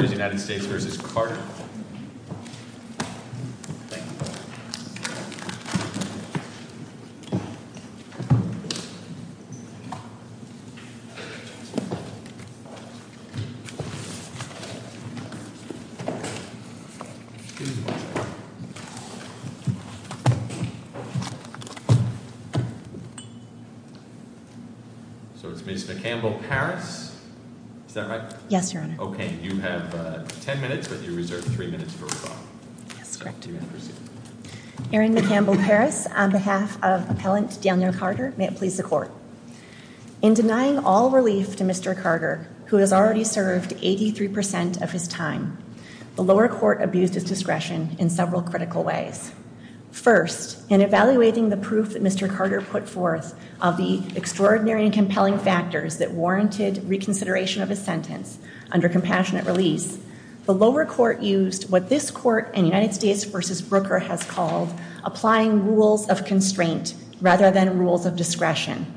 So it's Ms. McCampbell-Parris, is that right? Yes, Your Honor. Okay, you have 10 minutes, but you reserve three minutes for rebuttal. Yes, correct. You may proceed. Erin McCampbell-Parris, on behalf of Appellant Daniel Carter, may it please the Court. In denying all relief to Mr. Carter, who has already served 83% of his time, the lower court abused his discretion in several critical ways. First, in evaluating the proof that Mr. Carter put forth of the extraordinary and compelling factors that warranted reconsideration of his sentence under compassionate release, the lower court used what this Court in United States v. Brooker has called applying rules of constraint rather than rules of discretion.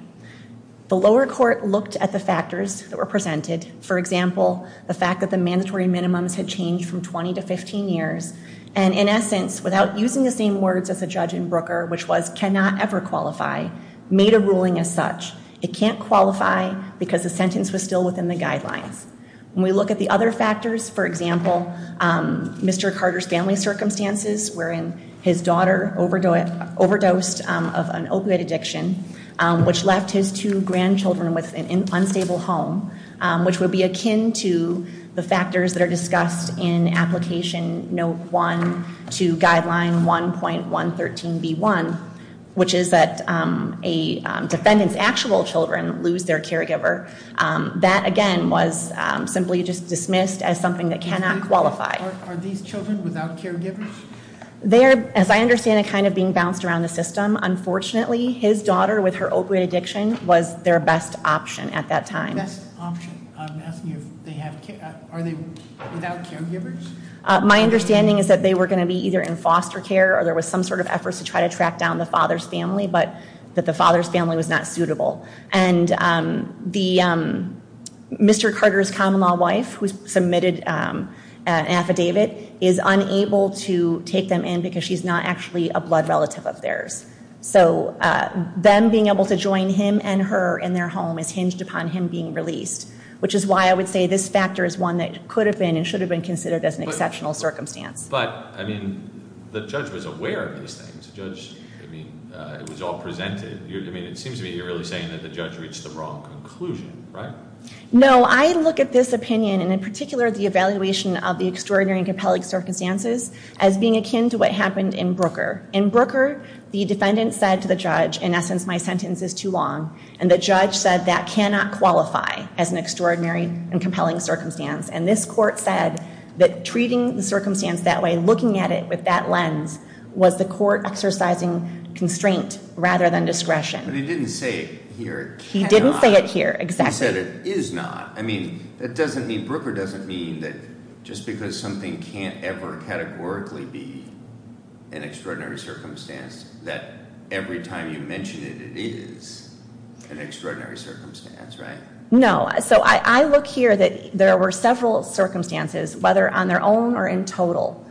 The lower court looked at the factors that were presented, for example, the fact that the mandatory minimums had changed from 20 to 15 years, and in essence, without using the same words as the judge in Brooker, which was cannot ever qualify, made a ruling as such. It can't qualify because the sentence was still within the guidelines. When we look at the other factors, for example, Mr. Carter's family circumstances wherein his daughter overdosed of an opioid addiction, which left his two grandchildren with an unstable home, which would be akin to the factors that are discussed in application note one to guideline 1.113B1, which is that a defendant's actual children lose their caregiver, that again was simply just dismissed as something that cannot qualify. Are these children without caregivers? As I understand it, kind of being bounced around the system, unfortunately, his daughter with her opioid addiction was their best option at that time. Best option. I'm asking if they have, are they without caregivers? My understanding is that they were gonna be either in foster care or there was some sort of efforts to try to track down the father's family, but that the father's family was not suitable. And Mr. Carter's common law wife, who submitted an affidavit, is unable to take them in because she's not actually a blood relative of theirs. So them being able to join him and her in their home is hinged upon him being released, which is why I would say this factor is one that could have been and should have been considered as an exceptional circumstance. But, I mean, the judge was aware of these things. The judge, I mean, it was all presented. I mean, it seems to me you're really saying that the judge reached the wrong conclusion, right? No, I look at this opinion, and in particular, the evaluation of the extraordinary and compelling circumstances as being akin to what happened in Brooker. In Brooker, the defendant said to the judge, in essence, my sentence is too long. And the judge said that cannot qualify as an extraordinary and compelling circumstance. And this court said that treating the circumstance that way, looking at it with that lens, was the court exercising constraint rather than discretion. But he didn't say it here. He didn't say it here, exactly. He said it is not. I mean, that doesn't mean, Brooker doesn't mean that just because something can't ever categorically be an extraordinary circumstance, that every time you mention it, it is an extraordinary circumstance, right? No. So I look here that there were several circumstances, whether on their own or in total,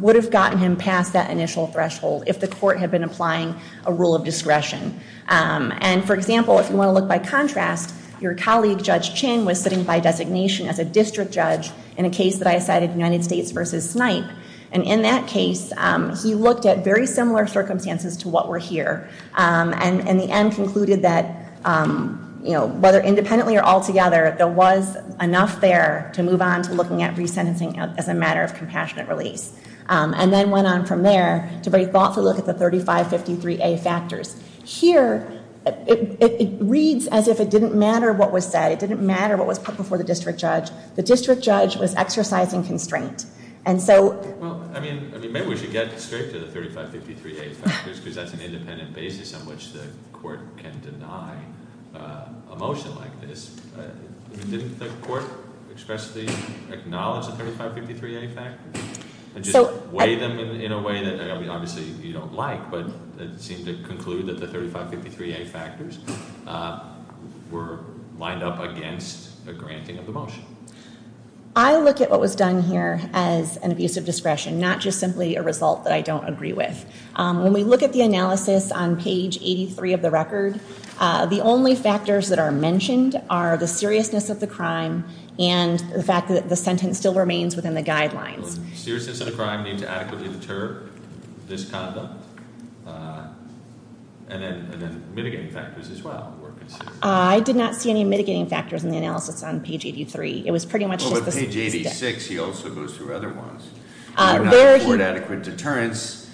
would have gotten him past that initial threshold if the court had been applying a rule of discretion. And for example, if you want to look by contrast, your colleague, Judge Chin, was sitting by designation as a district judge in a case that I cited, United States v. Snipe. And in that case, he looked at very similar circumstances to what were here. And in the end, concluded that whether independently or altogether, there was enough there to move on to looking at resentencing as a matter of compassionate release. And then went on from there to very thoughtfully look at the 3553A factors. Here, it reads as if it didn't matter what was said. It didn't matter what was put before the district judge. The district judge was exercising constraint. And so- Well, I mean, maybe we should get straight to the 3553A factors, because that's an independent basis on which the court can deny a motion like this. Didn't the court expressly acknowledge the 3553A factors? And just weigh them in a way that, I mean, obviously you don't like. But it seemed to conclude that the 3553A factors were lined up against a granting of the motion. I look at what was done here as an abuse of discretion, not just simply a result that I don't agree with. When we look at the analysis on page 83 of the record, the only factors that are mentioned are the seriousness of the crime and the fact that the sentence still remains within the guidelines. Seriousness of the crime need to adequately deter this conduct, and then mitigating factors as well were considered. I did not see any mitigating factors in the analysis on page 83. It was pretty much just the- Well, with page 86, he also goes through other ones. There he- Would not afford adequate deterrence,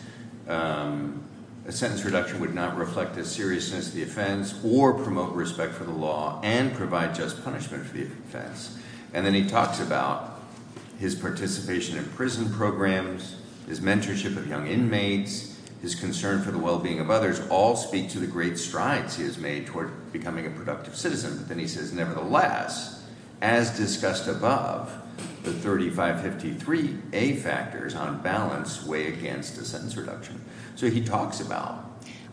a sentence reduction would not reflect the seriousness of the offense, or promote respect for the law, and provide just punishment for the offense. And then he talks about his participation in prison programs, his mentorship of young inmates, his concern for the well-being of others, all speak to the great strides he has made toward becoming a productive citizen. But then he says, nevertheless, as discussed above, the 3553A factors on balance weigh against the sentence reduction. So he talks about-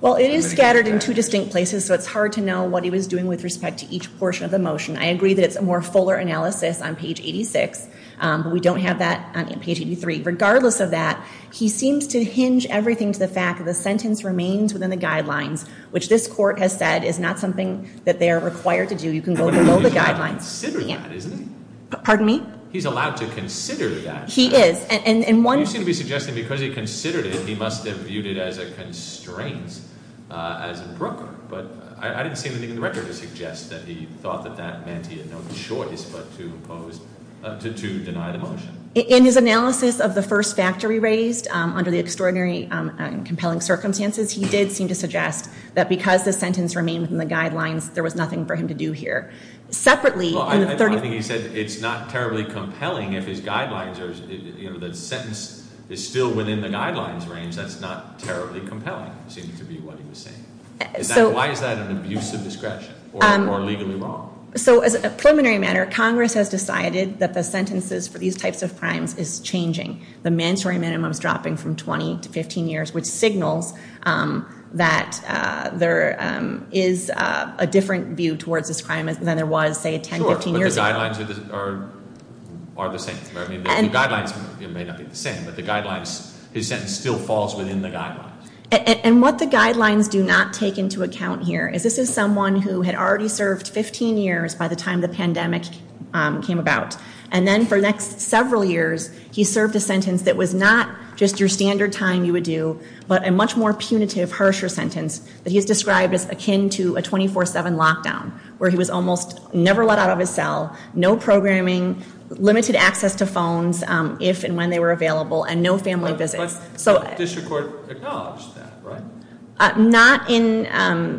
Well, it is scattered in two distinct places, so it's hard to know what he was doing with respect to each portion of the motion. I agree that it's a more fuller analysis on page 86, but we don't have that on page 83. Regardless of that, he seems to hinge everything to the fact that the sentence remains within the guidelines, which this court has said is not something that they are required to do. You can go below the guidelines. He's allowed to consider that, isn't he? Pardon me? He's allowed to consider that. He is, and one- You seem to be suggesting because he considered it, he must have viewed it as a constraint as a broker. But I didn't see anything in the record that suggests that he thought that that meant he had no choice but to deny the motion. In his analysis of the first factor he raised, under the extraordinary and compelling circumstances, he did seem to suggest that because the sentence remained within the guidelines, there was nothing for him to do here. Separately, in the- Well, I think he said it's not terribly compelling if his guidelines are, the sentence is still within the guidelines range, that's not terribly compelling, seemed to be what he was saying. Why is that an abuse of discretion, or legally wrong? So, as a preliminary matter, Congress has decided that the sentences for these types of crimes is changing. The mandatory minimum's dropping from 20 to 15 years, which signals that there is a different view towards this crime than there was, say, 10, 15 years ago. Sure, but the guidelines are the same, right? I mean, the guidelines may not be the same, but the guidelines, his sentence still falls within the guidelines. And what the guidelines do not take into account here is this is someone who had already served 15 years by the time the pandemic came about. And then for the next several years, he served a sentence that was not just your standard time you would do, but a much more punitive, harsher sentence that he has described as akin to a 24-7 lockdown, where he was almost never let out of his cell, no programming, limited access to phones if and when they were available, and no family visits. So- The district court acknowledged that, right? Not in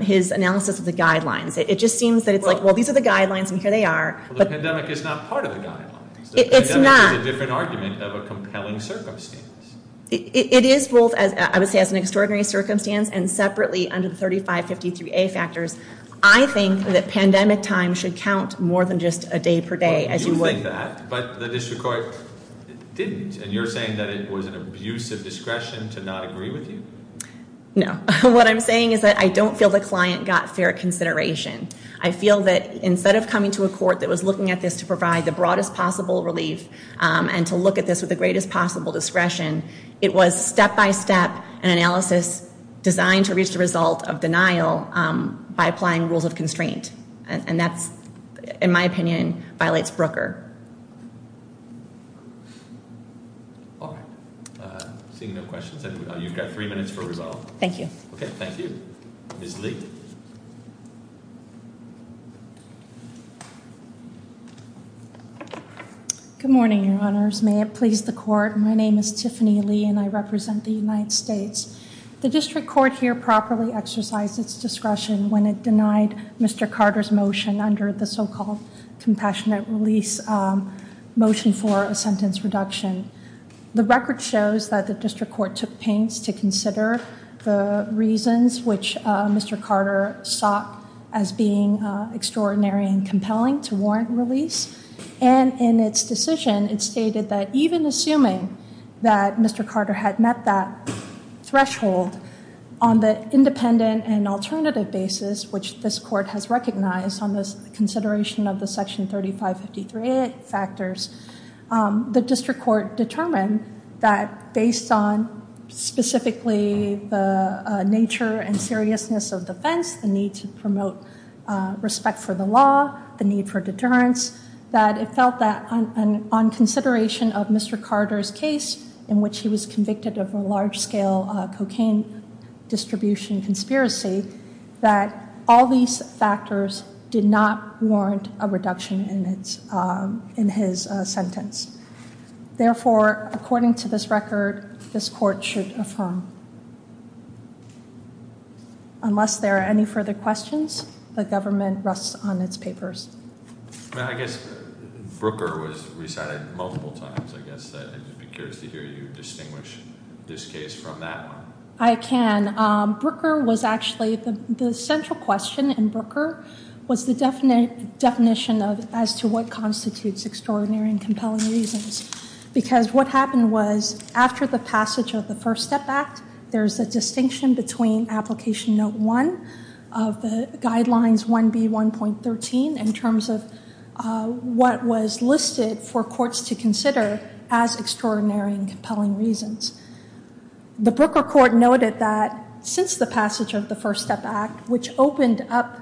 his analysis of the guidelines. It just seems that it's like, well, these are the guidelines, and here they are. The pandemic is not part of the guidelines. The pandemic is a different argument of a compelling circumstance. It is both, I would say, as an extraordinary circumstance, and separately under the 3553A factors. I think that pandemic time should count more than just a day per day, as you would- But the district court didn't, and you're saying that it was an abuse of discretion to not agree with you? No, what I'm saying is that I don't feel the client got fair consideration. I feel that instead of coming to a court that was looking at this to provide the broadest possible relief and to look at this with the greatest possible discretion, it was step by step an analysis designed to reach the result of denial by applying rules of constraint. And that's, in my opinion, violates Brooker. All right, seeing no questions, then you've got three minutes for resolve. Thank you. Okay, thank you. Ms. Lee. Good morning, your honors. May it please the court, my name is Tiffany Lee, and I represent the United States. The district court here properly exercised its discretion when it denied Mr. Carter's motion under the so-called compassionate release motion for a sentence reduction. The record shows that the district court took pains to consider the reasons which Mr. Carter sought as being extraordinary and compelling to warrant release. And in its decision, it stated that even assuming that Mr. Carter had met that threshold on the independent and alternative basis, which this court has recognized on this consideration of the section 3553A factors, the district court determined that based on specifically the nature and seriousness of defense, the need to promote respect for the law, the need for deterrence, that it felt that on consideration of Mr. Carter's case, in which he was convicted of a large scale cocaine distribution conspiracy, that all these factors did not warrant a reduction in his sentence. Therefore, according to this record, this court should affirm. Unless there are any further questions, the government rests on its papers. I guess Brooker was resided multiple times. I guess I'd be curious to hear you distinguish this case from that one. I can. Brooker was actually, the central question in Brooker, was the definition of as to what constitutes extraordinary and compelling reasons. Because what happened was, after the passage of the First Step Act, there's a distinction between application note one of the guidelines 1B1.13 in terms of what was listed for courts to consider as extraordinary and compelling reasons. The Brooker court noted that since the passage of the First Step Act, which opened up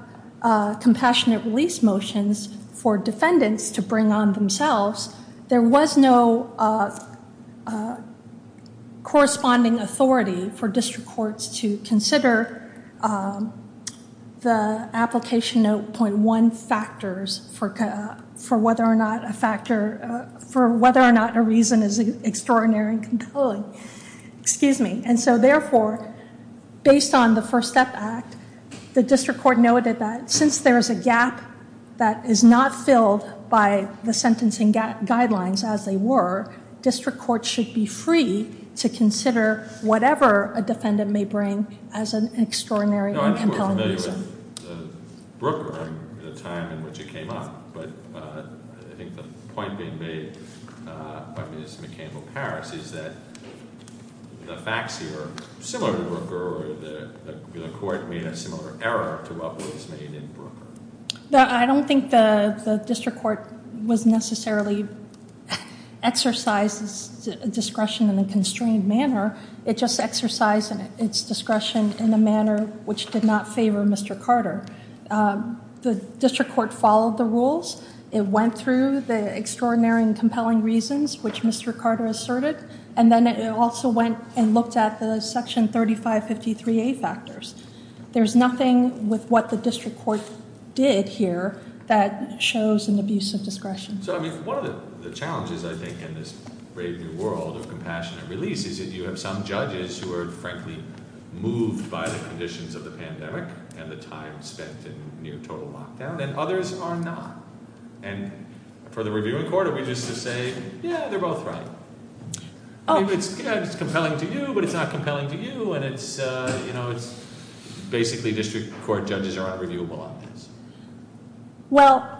compassionate release motions for defendants to bring on themselves, there was no corresponding authority for district courts to consider the application note point one factors. For whether or not a reason is extraordinary and compelling. Excuse me. And so therefore, based on the First Step Act, the district court noted that since there is a gap that is not filled by the sentencing guidelines as they were, district courts should be free to consider whatever a defendant may bring as an extraordinary and compelling reason. I'm not familiar with the Brooker, the time in which it came up. But I think the point being made by Ms. McCampbell-Parris is that the facts here are similar to Brooker or the court made a similar error to what was made in Brooker. I don't think the district court was necessarily exercises discretion in a constrained manner. It just exercised its discretion in a manner which did not favor Mr. Carter. The district court followed the rules. It went through the extraordinary and compelling reasons which Mr. Carter asserted. And then it also went and looked at the section 3553A factors. There's nothing with what the district court did here that shows an abuse of discretion. So I mean, one of the challenges, I think, in this brave new world of compassionate release is that you have some judges who are, frankly, moved by the conditions of the pandemic and the time spent in near total lockdown. And others are not. And for the reviewing court, are we just to say, yeah, they're both right. It's compelling to you, but it's not compelling to you. And it's basically district court judges are unreviewable on this. Well,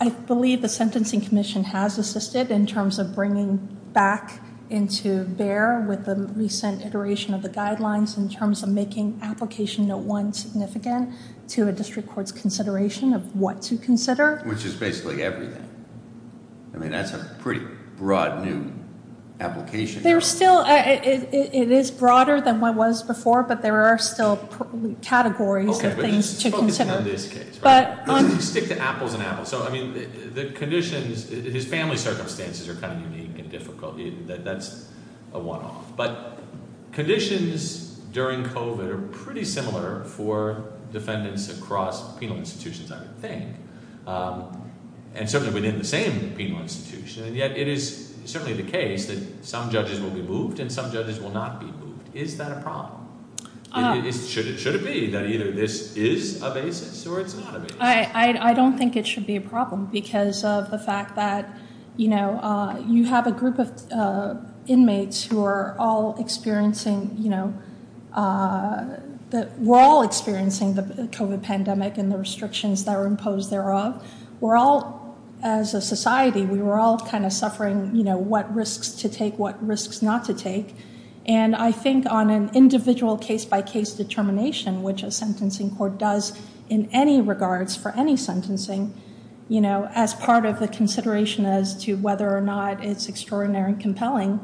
I believe the Sentencing Commission has assisted in terms of bringing back into bear with the recent iteration of the guidelines in terms of making application no one significant to a district court's consideration of what to consider. Which is basically everything. I mean, that's a pretty broad new application. There's still, it is broader than what it was before, but there are still categories of things to consider. But- Stick to apples and apples. So I mean, the conditions, his family circumstances are kind of unique and difficult. That's a one off. But conditions during COVID are pretty similar for defendants across penal institutions, I would think. And certainly within the same penal institution. And yet it is certainly the case that some judges will be moved and some judges will not be moved. Is that a problem? Should it be that either this is a basis or it's not a basis? I don't think it should be a problem because of the fact that you have a group of inmates who are all experiencing, you know, that we're all experiencing the COVID pandemic and the restrictions that are imposed thereof. We're all, as a society, we were all kind of suffering, you know, what risks to take, what risks not to take. And I think on an individual case by case determination, which a sentencing court does in any regards for any sentencing, you know, as part of the consideration as to whether or not it's extraordinary and compelling.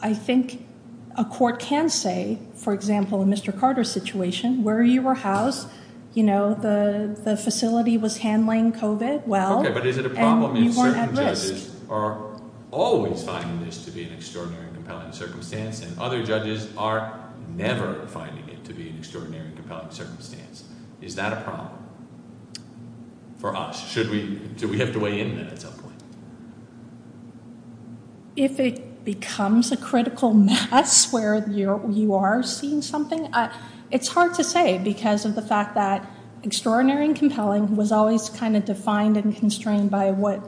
I think a court can say, for example, in Mr. Carter's situation, where you were housed, you know, the facility was handling COVID well. OK, but is it a problem if certain judges are always finding this to be an extraordinary and compelling circumstance and other judges are never finding it to be an extraordinary and compelling circumstance? Is that a problem for us? Should we, do we have to weigh in at some point? If it becomes a critical mess where you are seeing something, it's hard to say because of the fact that extraordinary and compelling was always kind of defined and constrained by what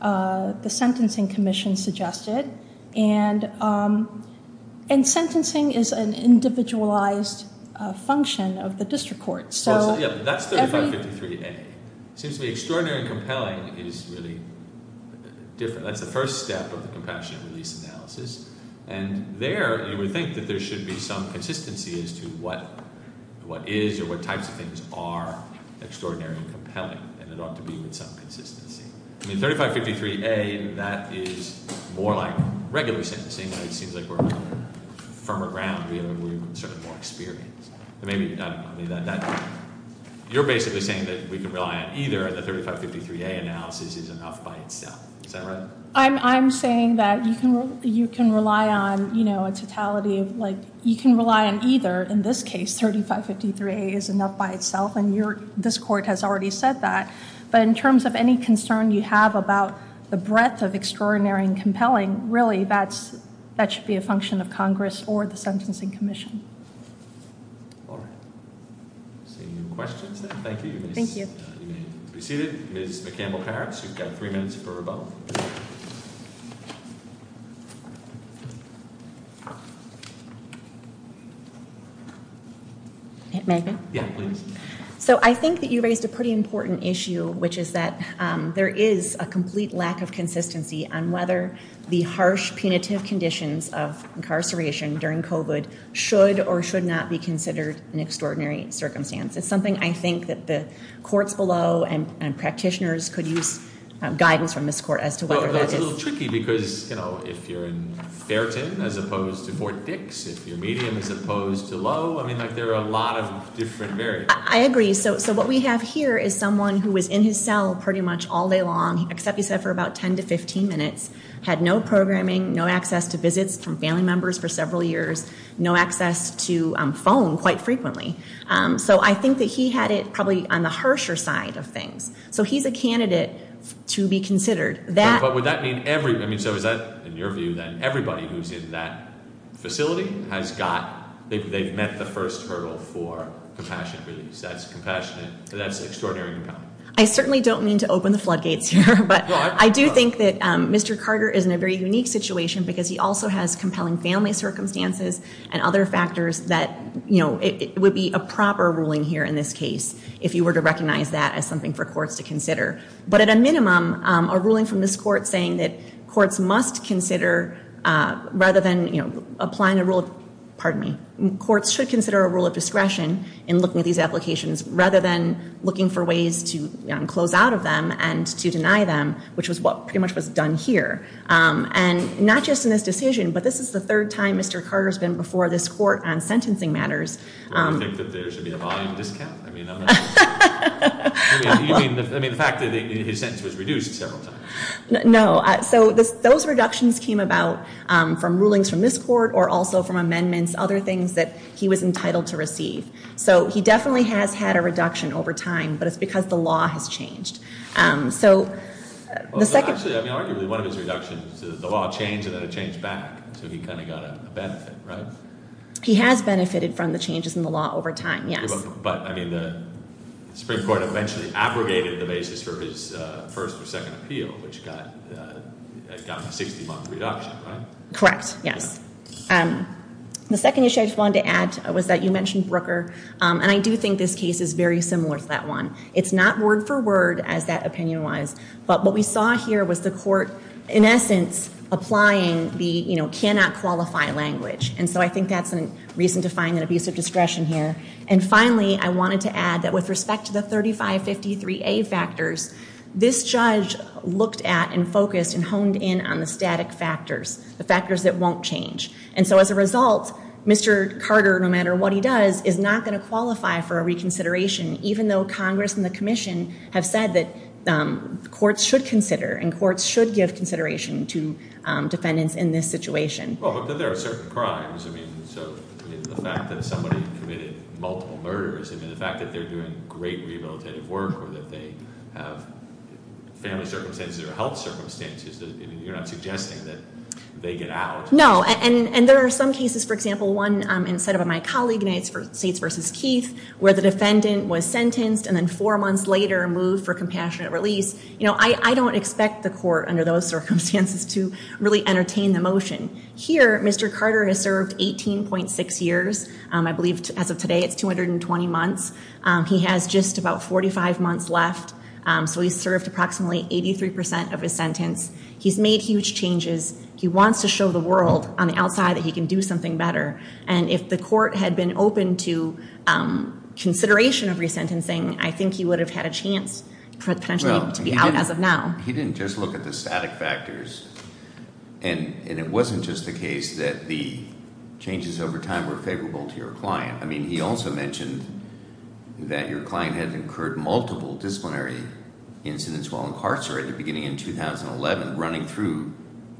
the sentencing commission suggested. And sentencing is an individualized function of the district court. So, yeah, that's 3553A. It seems to me extraordinary and compelling is really different. That's the first step of the compassionate release analysis. And there, you would think that there should be some consistency as to what is or what types of things are extraordinary and compelling, and it ought to be with some consistency. I mean, 3553A, that is more like regular sentencing. It seems like we're on firmer ground. We're sort of more experienced. I mean, you're basically saying that we can rely on either, and the 3553A analysis is enough by itself, is that right? I'm saying that you can rely on a totality of, you can rely on either. In this case, 3553A is enough by itself, and this court has already said that. But in terms of any concern you have about the breadth of extraordinary and compelling, really, that should be a function of Congress or the Sentencing Commission. All right, seeing no questions, then, thank you, Miss. Thank you. You may be seated. Ms. McCampbell-Parris, you've got three minutes for rebuttal. May I? Yeah, please. So I think that you raised a pretty important issue, which is that there is a complete lack of consistency on whether the harsh, punitive conditions of incarceration during COVID should or should not be considered an extraordinary circumstance. It's something I think that the courts below and practitioners could use guidance from this court as to whether that is- Well, it's a little tricky because if you're in Fairton as opposed to Fort Dix, if you're medium as opposed to low, I mean, there are a lot of different variables. I agree. So what we have here is someone who was in his cell pretty much all day long, except he said for about 10 to 15 minutes, had no programming, no access to visits from family members for several years, no access to phone quite frequently. So I think that he had it probably on the harsher side of things. So he's a candidate to be considered. That- But would that mean every, I mean, so is that, in your view, then, everybody who's in that facility has got, they've met the first hurdle for compassionate release. That's compassionate, and that's extraordinarily compelling. I certainly don't mean to open the floodgates here, but I do think that Mr. Carter is in a very unique situation because he also has compelling family circumstances and other factors that it would be a proper ruling here in this case if you were to recognize that as something for courts to consider. But at a minimum, a ruling from this court saying that courts must consider, rather than applying a rule of, pardon me. Courts should consider a rule of discretion in looking at these applications, rather than looking for ways to close out of them and to deny them, which was what pretty much was done here. And not just in this decision, but this is the third time Mr. Carter's been before this court on sentencing matters. Do you think that there should be a volume discount? I mean, I'm not- I mean, the fact that his sentence was reduced several times. No, so those reductions came about from rulings from this court, or also from amendments, other things that he was entitled to receive. So he definitely has had a reduction over time, but it's because the law has changed. So, the second- Actually, I mean, arguably, one of his reductions, the law changed and then it changed back, so he kind of got a benefit, right? He has benefited from the changes in the law over time, yes. But, I mean, the Supreme Court eventually abrogated the basis for his first or second appeal, which got a 60-month reduction, right? Correct, yes. The second issue I just wanted to add was that you mentioned Brooker, and I do think this case is very similar to that one. It's not word for word, as that opinion was, but what we saw here was the court, in essence, applying the, you know, cannot qualify language. And so, I think that's a reason to find an abuse of discretion here. And finally, I wanted to add that with respect to the 3553A factors, this judge looked at and focused and honed in on the static factors, the factors that won't change. And so, as a result, Mr. Carter, no matter what he does, is not going to qualify for a reconsideration, even though Congress and the Commission have said that courts should consider and courts should give consideration to defendants in this situation. Well, but there are certain crimes, I mean, so the fact that somebody committed multiple murders, I mean, the fact that they're doing great rehabilitative work, or that they have family circumstances or health circumstances, I mean, you're not suggesting that they get out. No, and there are some cases, for example, one set up by my colleague, and it's for States versus Keith, where the defendant was sentenced and then four months later moved for compassionate release. I don't expect the court under those circumstances to really entertain the motion. Here, Mr. Carter has served 18.6 years, I believe as of today it's 220 months. He has just about 45 months left, so he's served approximately 83% of his sentence. He's made huge changes, he wants to show the world on the outside that he can do something better. And if the court had been open to consideration of resentencing, I think he would have had a chance potentially to be out as of now. He didn't just look at the static factors, and it wasn't just the case that the changes over time were favorable to your client. I mean, he also mentioned that your client had incurred multiple disciplinary incidents while incarcerated beginning in 2011, running through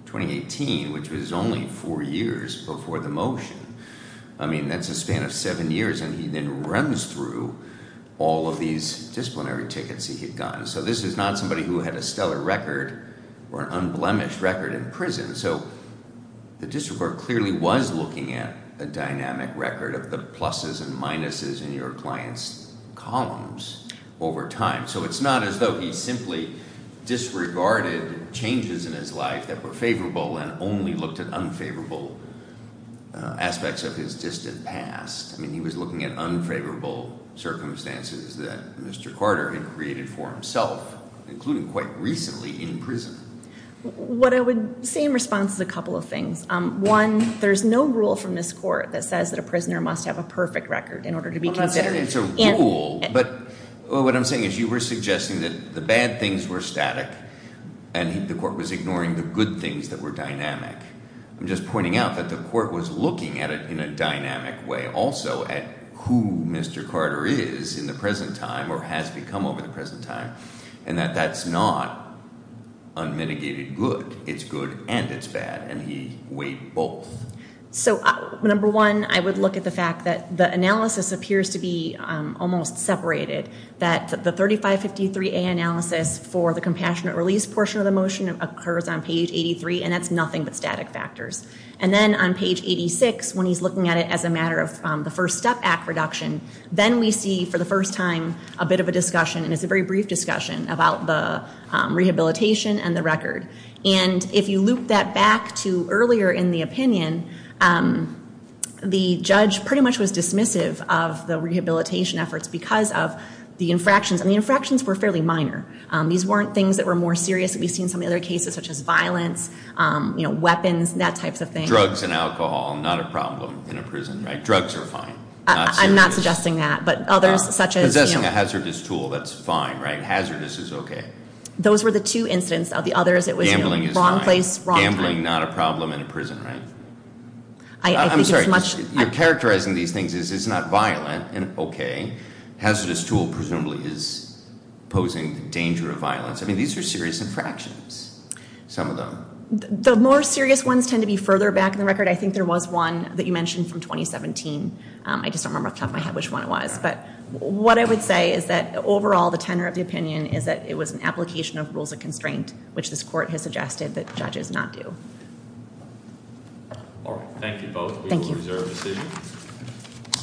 2018, which was only four years before the motion. I mean, that's a span of seven years, and he then runs through all of these disciplinary tickets he had gotten. So this is not somebody who had a stellar record or an unblemished record in prison. So the district court clearly was looking at a dynamic record of the pluses and minuses in your client's columns over time. So it's not as though he simply disregarded changes in his life that were favorable and only looked at unfavorable aspects of his distant past. I mean, he was looking at unfavorable circumstances that Mr. Carter had created for himself, including quite recently in prison. What I would say in response is a couple of things. One, there's no rule from this court that says that a prisoner must have a perfect record in order to be considered. It's a rule, but what I'm saying is you were suggesting that the bad things were static, and the court was ignoring the good things that were dynamic. I'm just pointing out that the court was looking at it in a dynamic way, also at who Mr. Carter is in the present time, or has become over the present time, and that that's not unmitigated good. It's good and it's bad, and he weighed both. So number one, I would look at the fact that the analysis appears to be almost separated. That the 3553A analysis for the compassionate release portion of the motion occurs on page 83, and that's nothing but static factors. And then on page 86, when he's looking at it as a matter of the first step act reduction, then we see for the first time a bit of a discussion, and it's a very brief discussion about the rehabilitation and the record. And if you loop that back to earlier in the opinion, the judge pretty much was dismissive of the rehabilitation efforts because of the infractions. And the infractions were fairly minor. These weren't things that were more serious. We've seen some other cases such as violence, weapons, that type of thing. Drugs and alcohol, not a problem in a prison, right? Drugs are fine, not serious. I'm not suggesting that, but others such as- Possessing a hazardous tool, that's fine, right? Hazardous is okay. Those were the two incidents. Of the others, it was- Gambling is fine. Wrong place, wrong time. Gambling, not a problem in a prison, right? I'm sorry, you're characterizing these things as it's not violent, and okay. Hazardous tool presumably is posing the danger of violence. I mean, these are serious infractions, some of them. The more serious ones tend to be further back in the record. I think there was one that you mentioned from 2017, I just don't remember off the top of my head which one it was. But what I would say is that overall, the tenor of the opinion is that it was an application of rules of constraint, which this court has suggested that judges not do. All right, thank you both. We will reserve a decision. Thank you.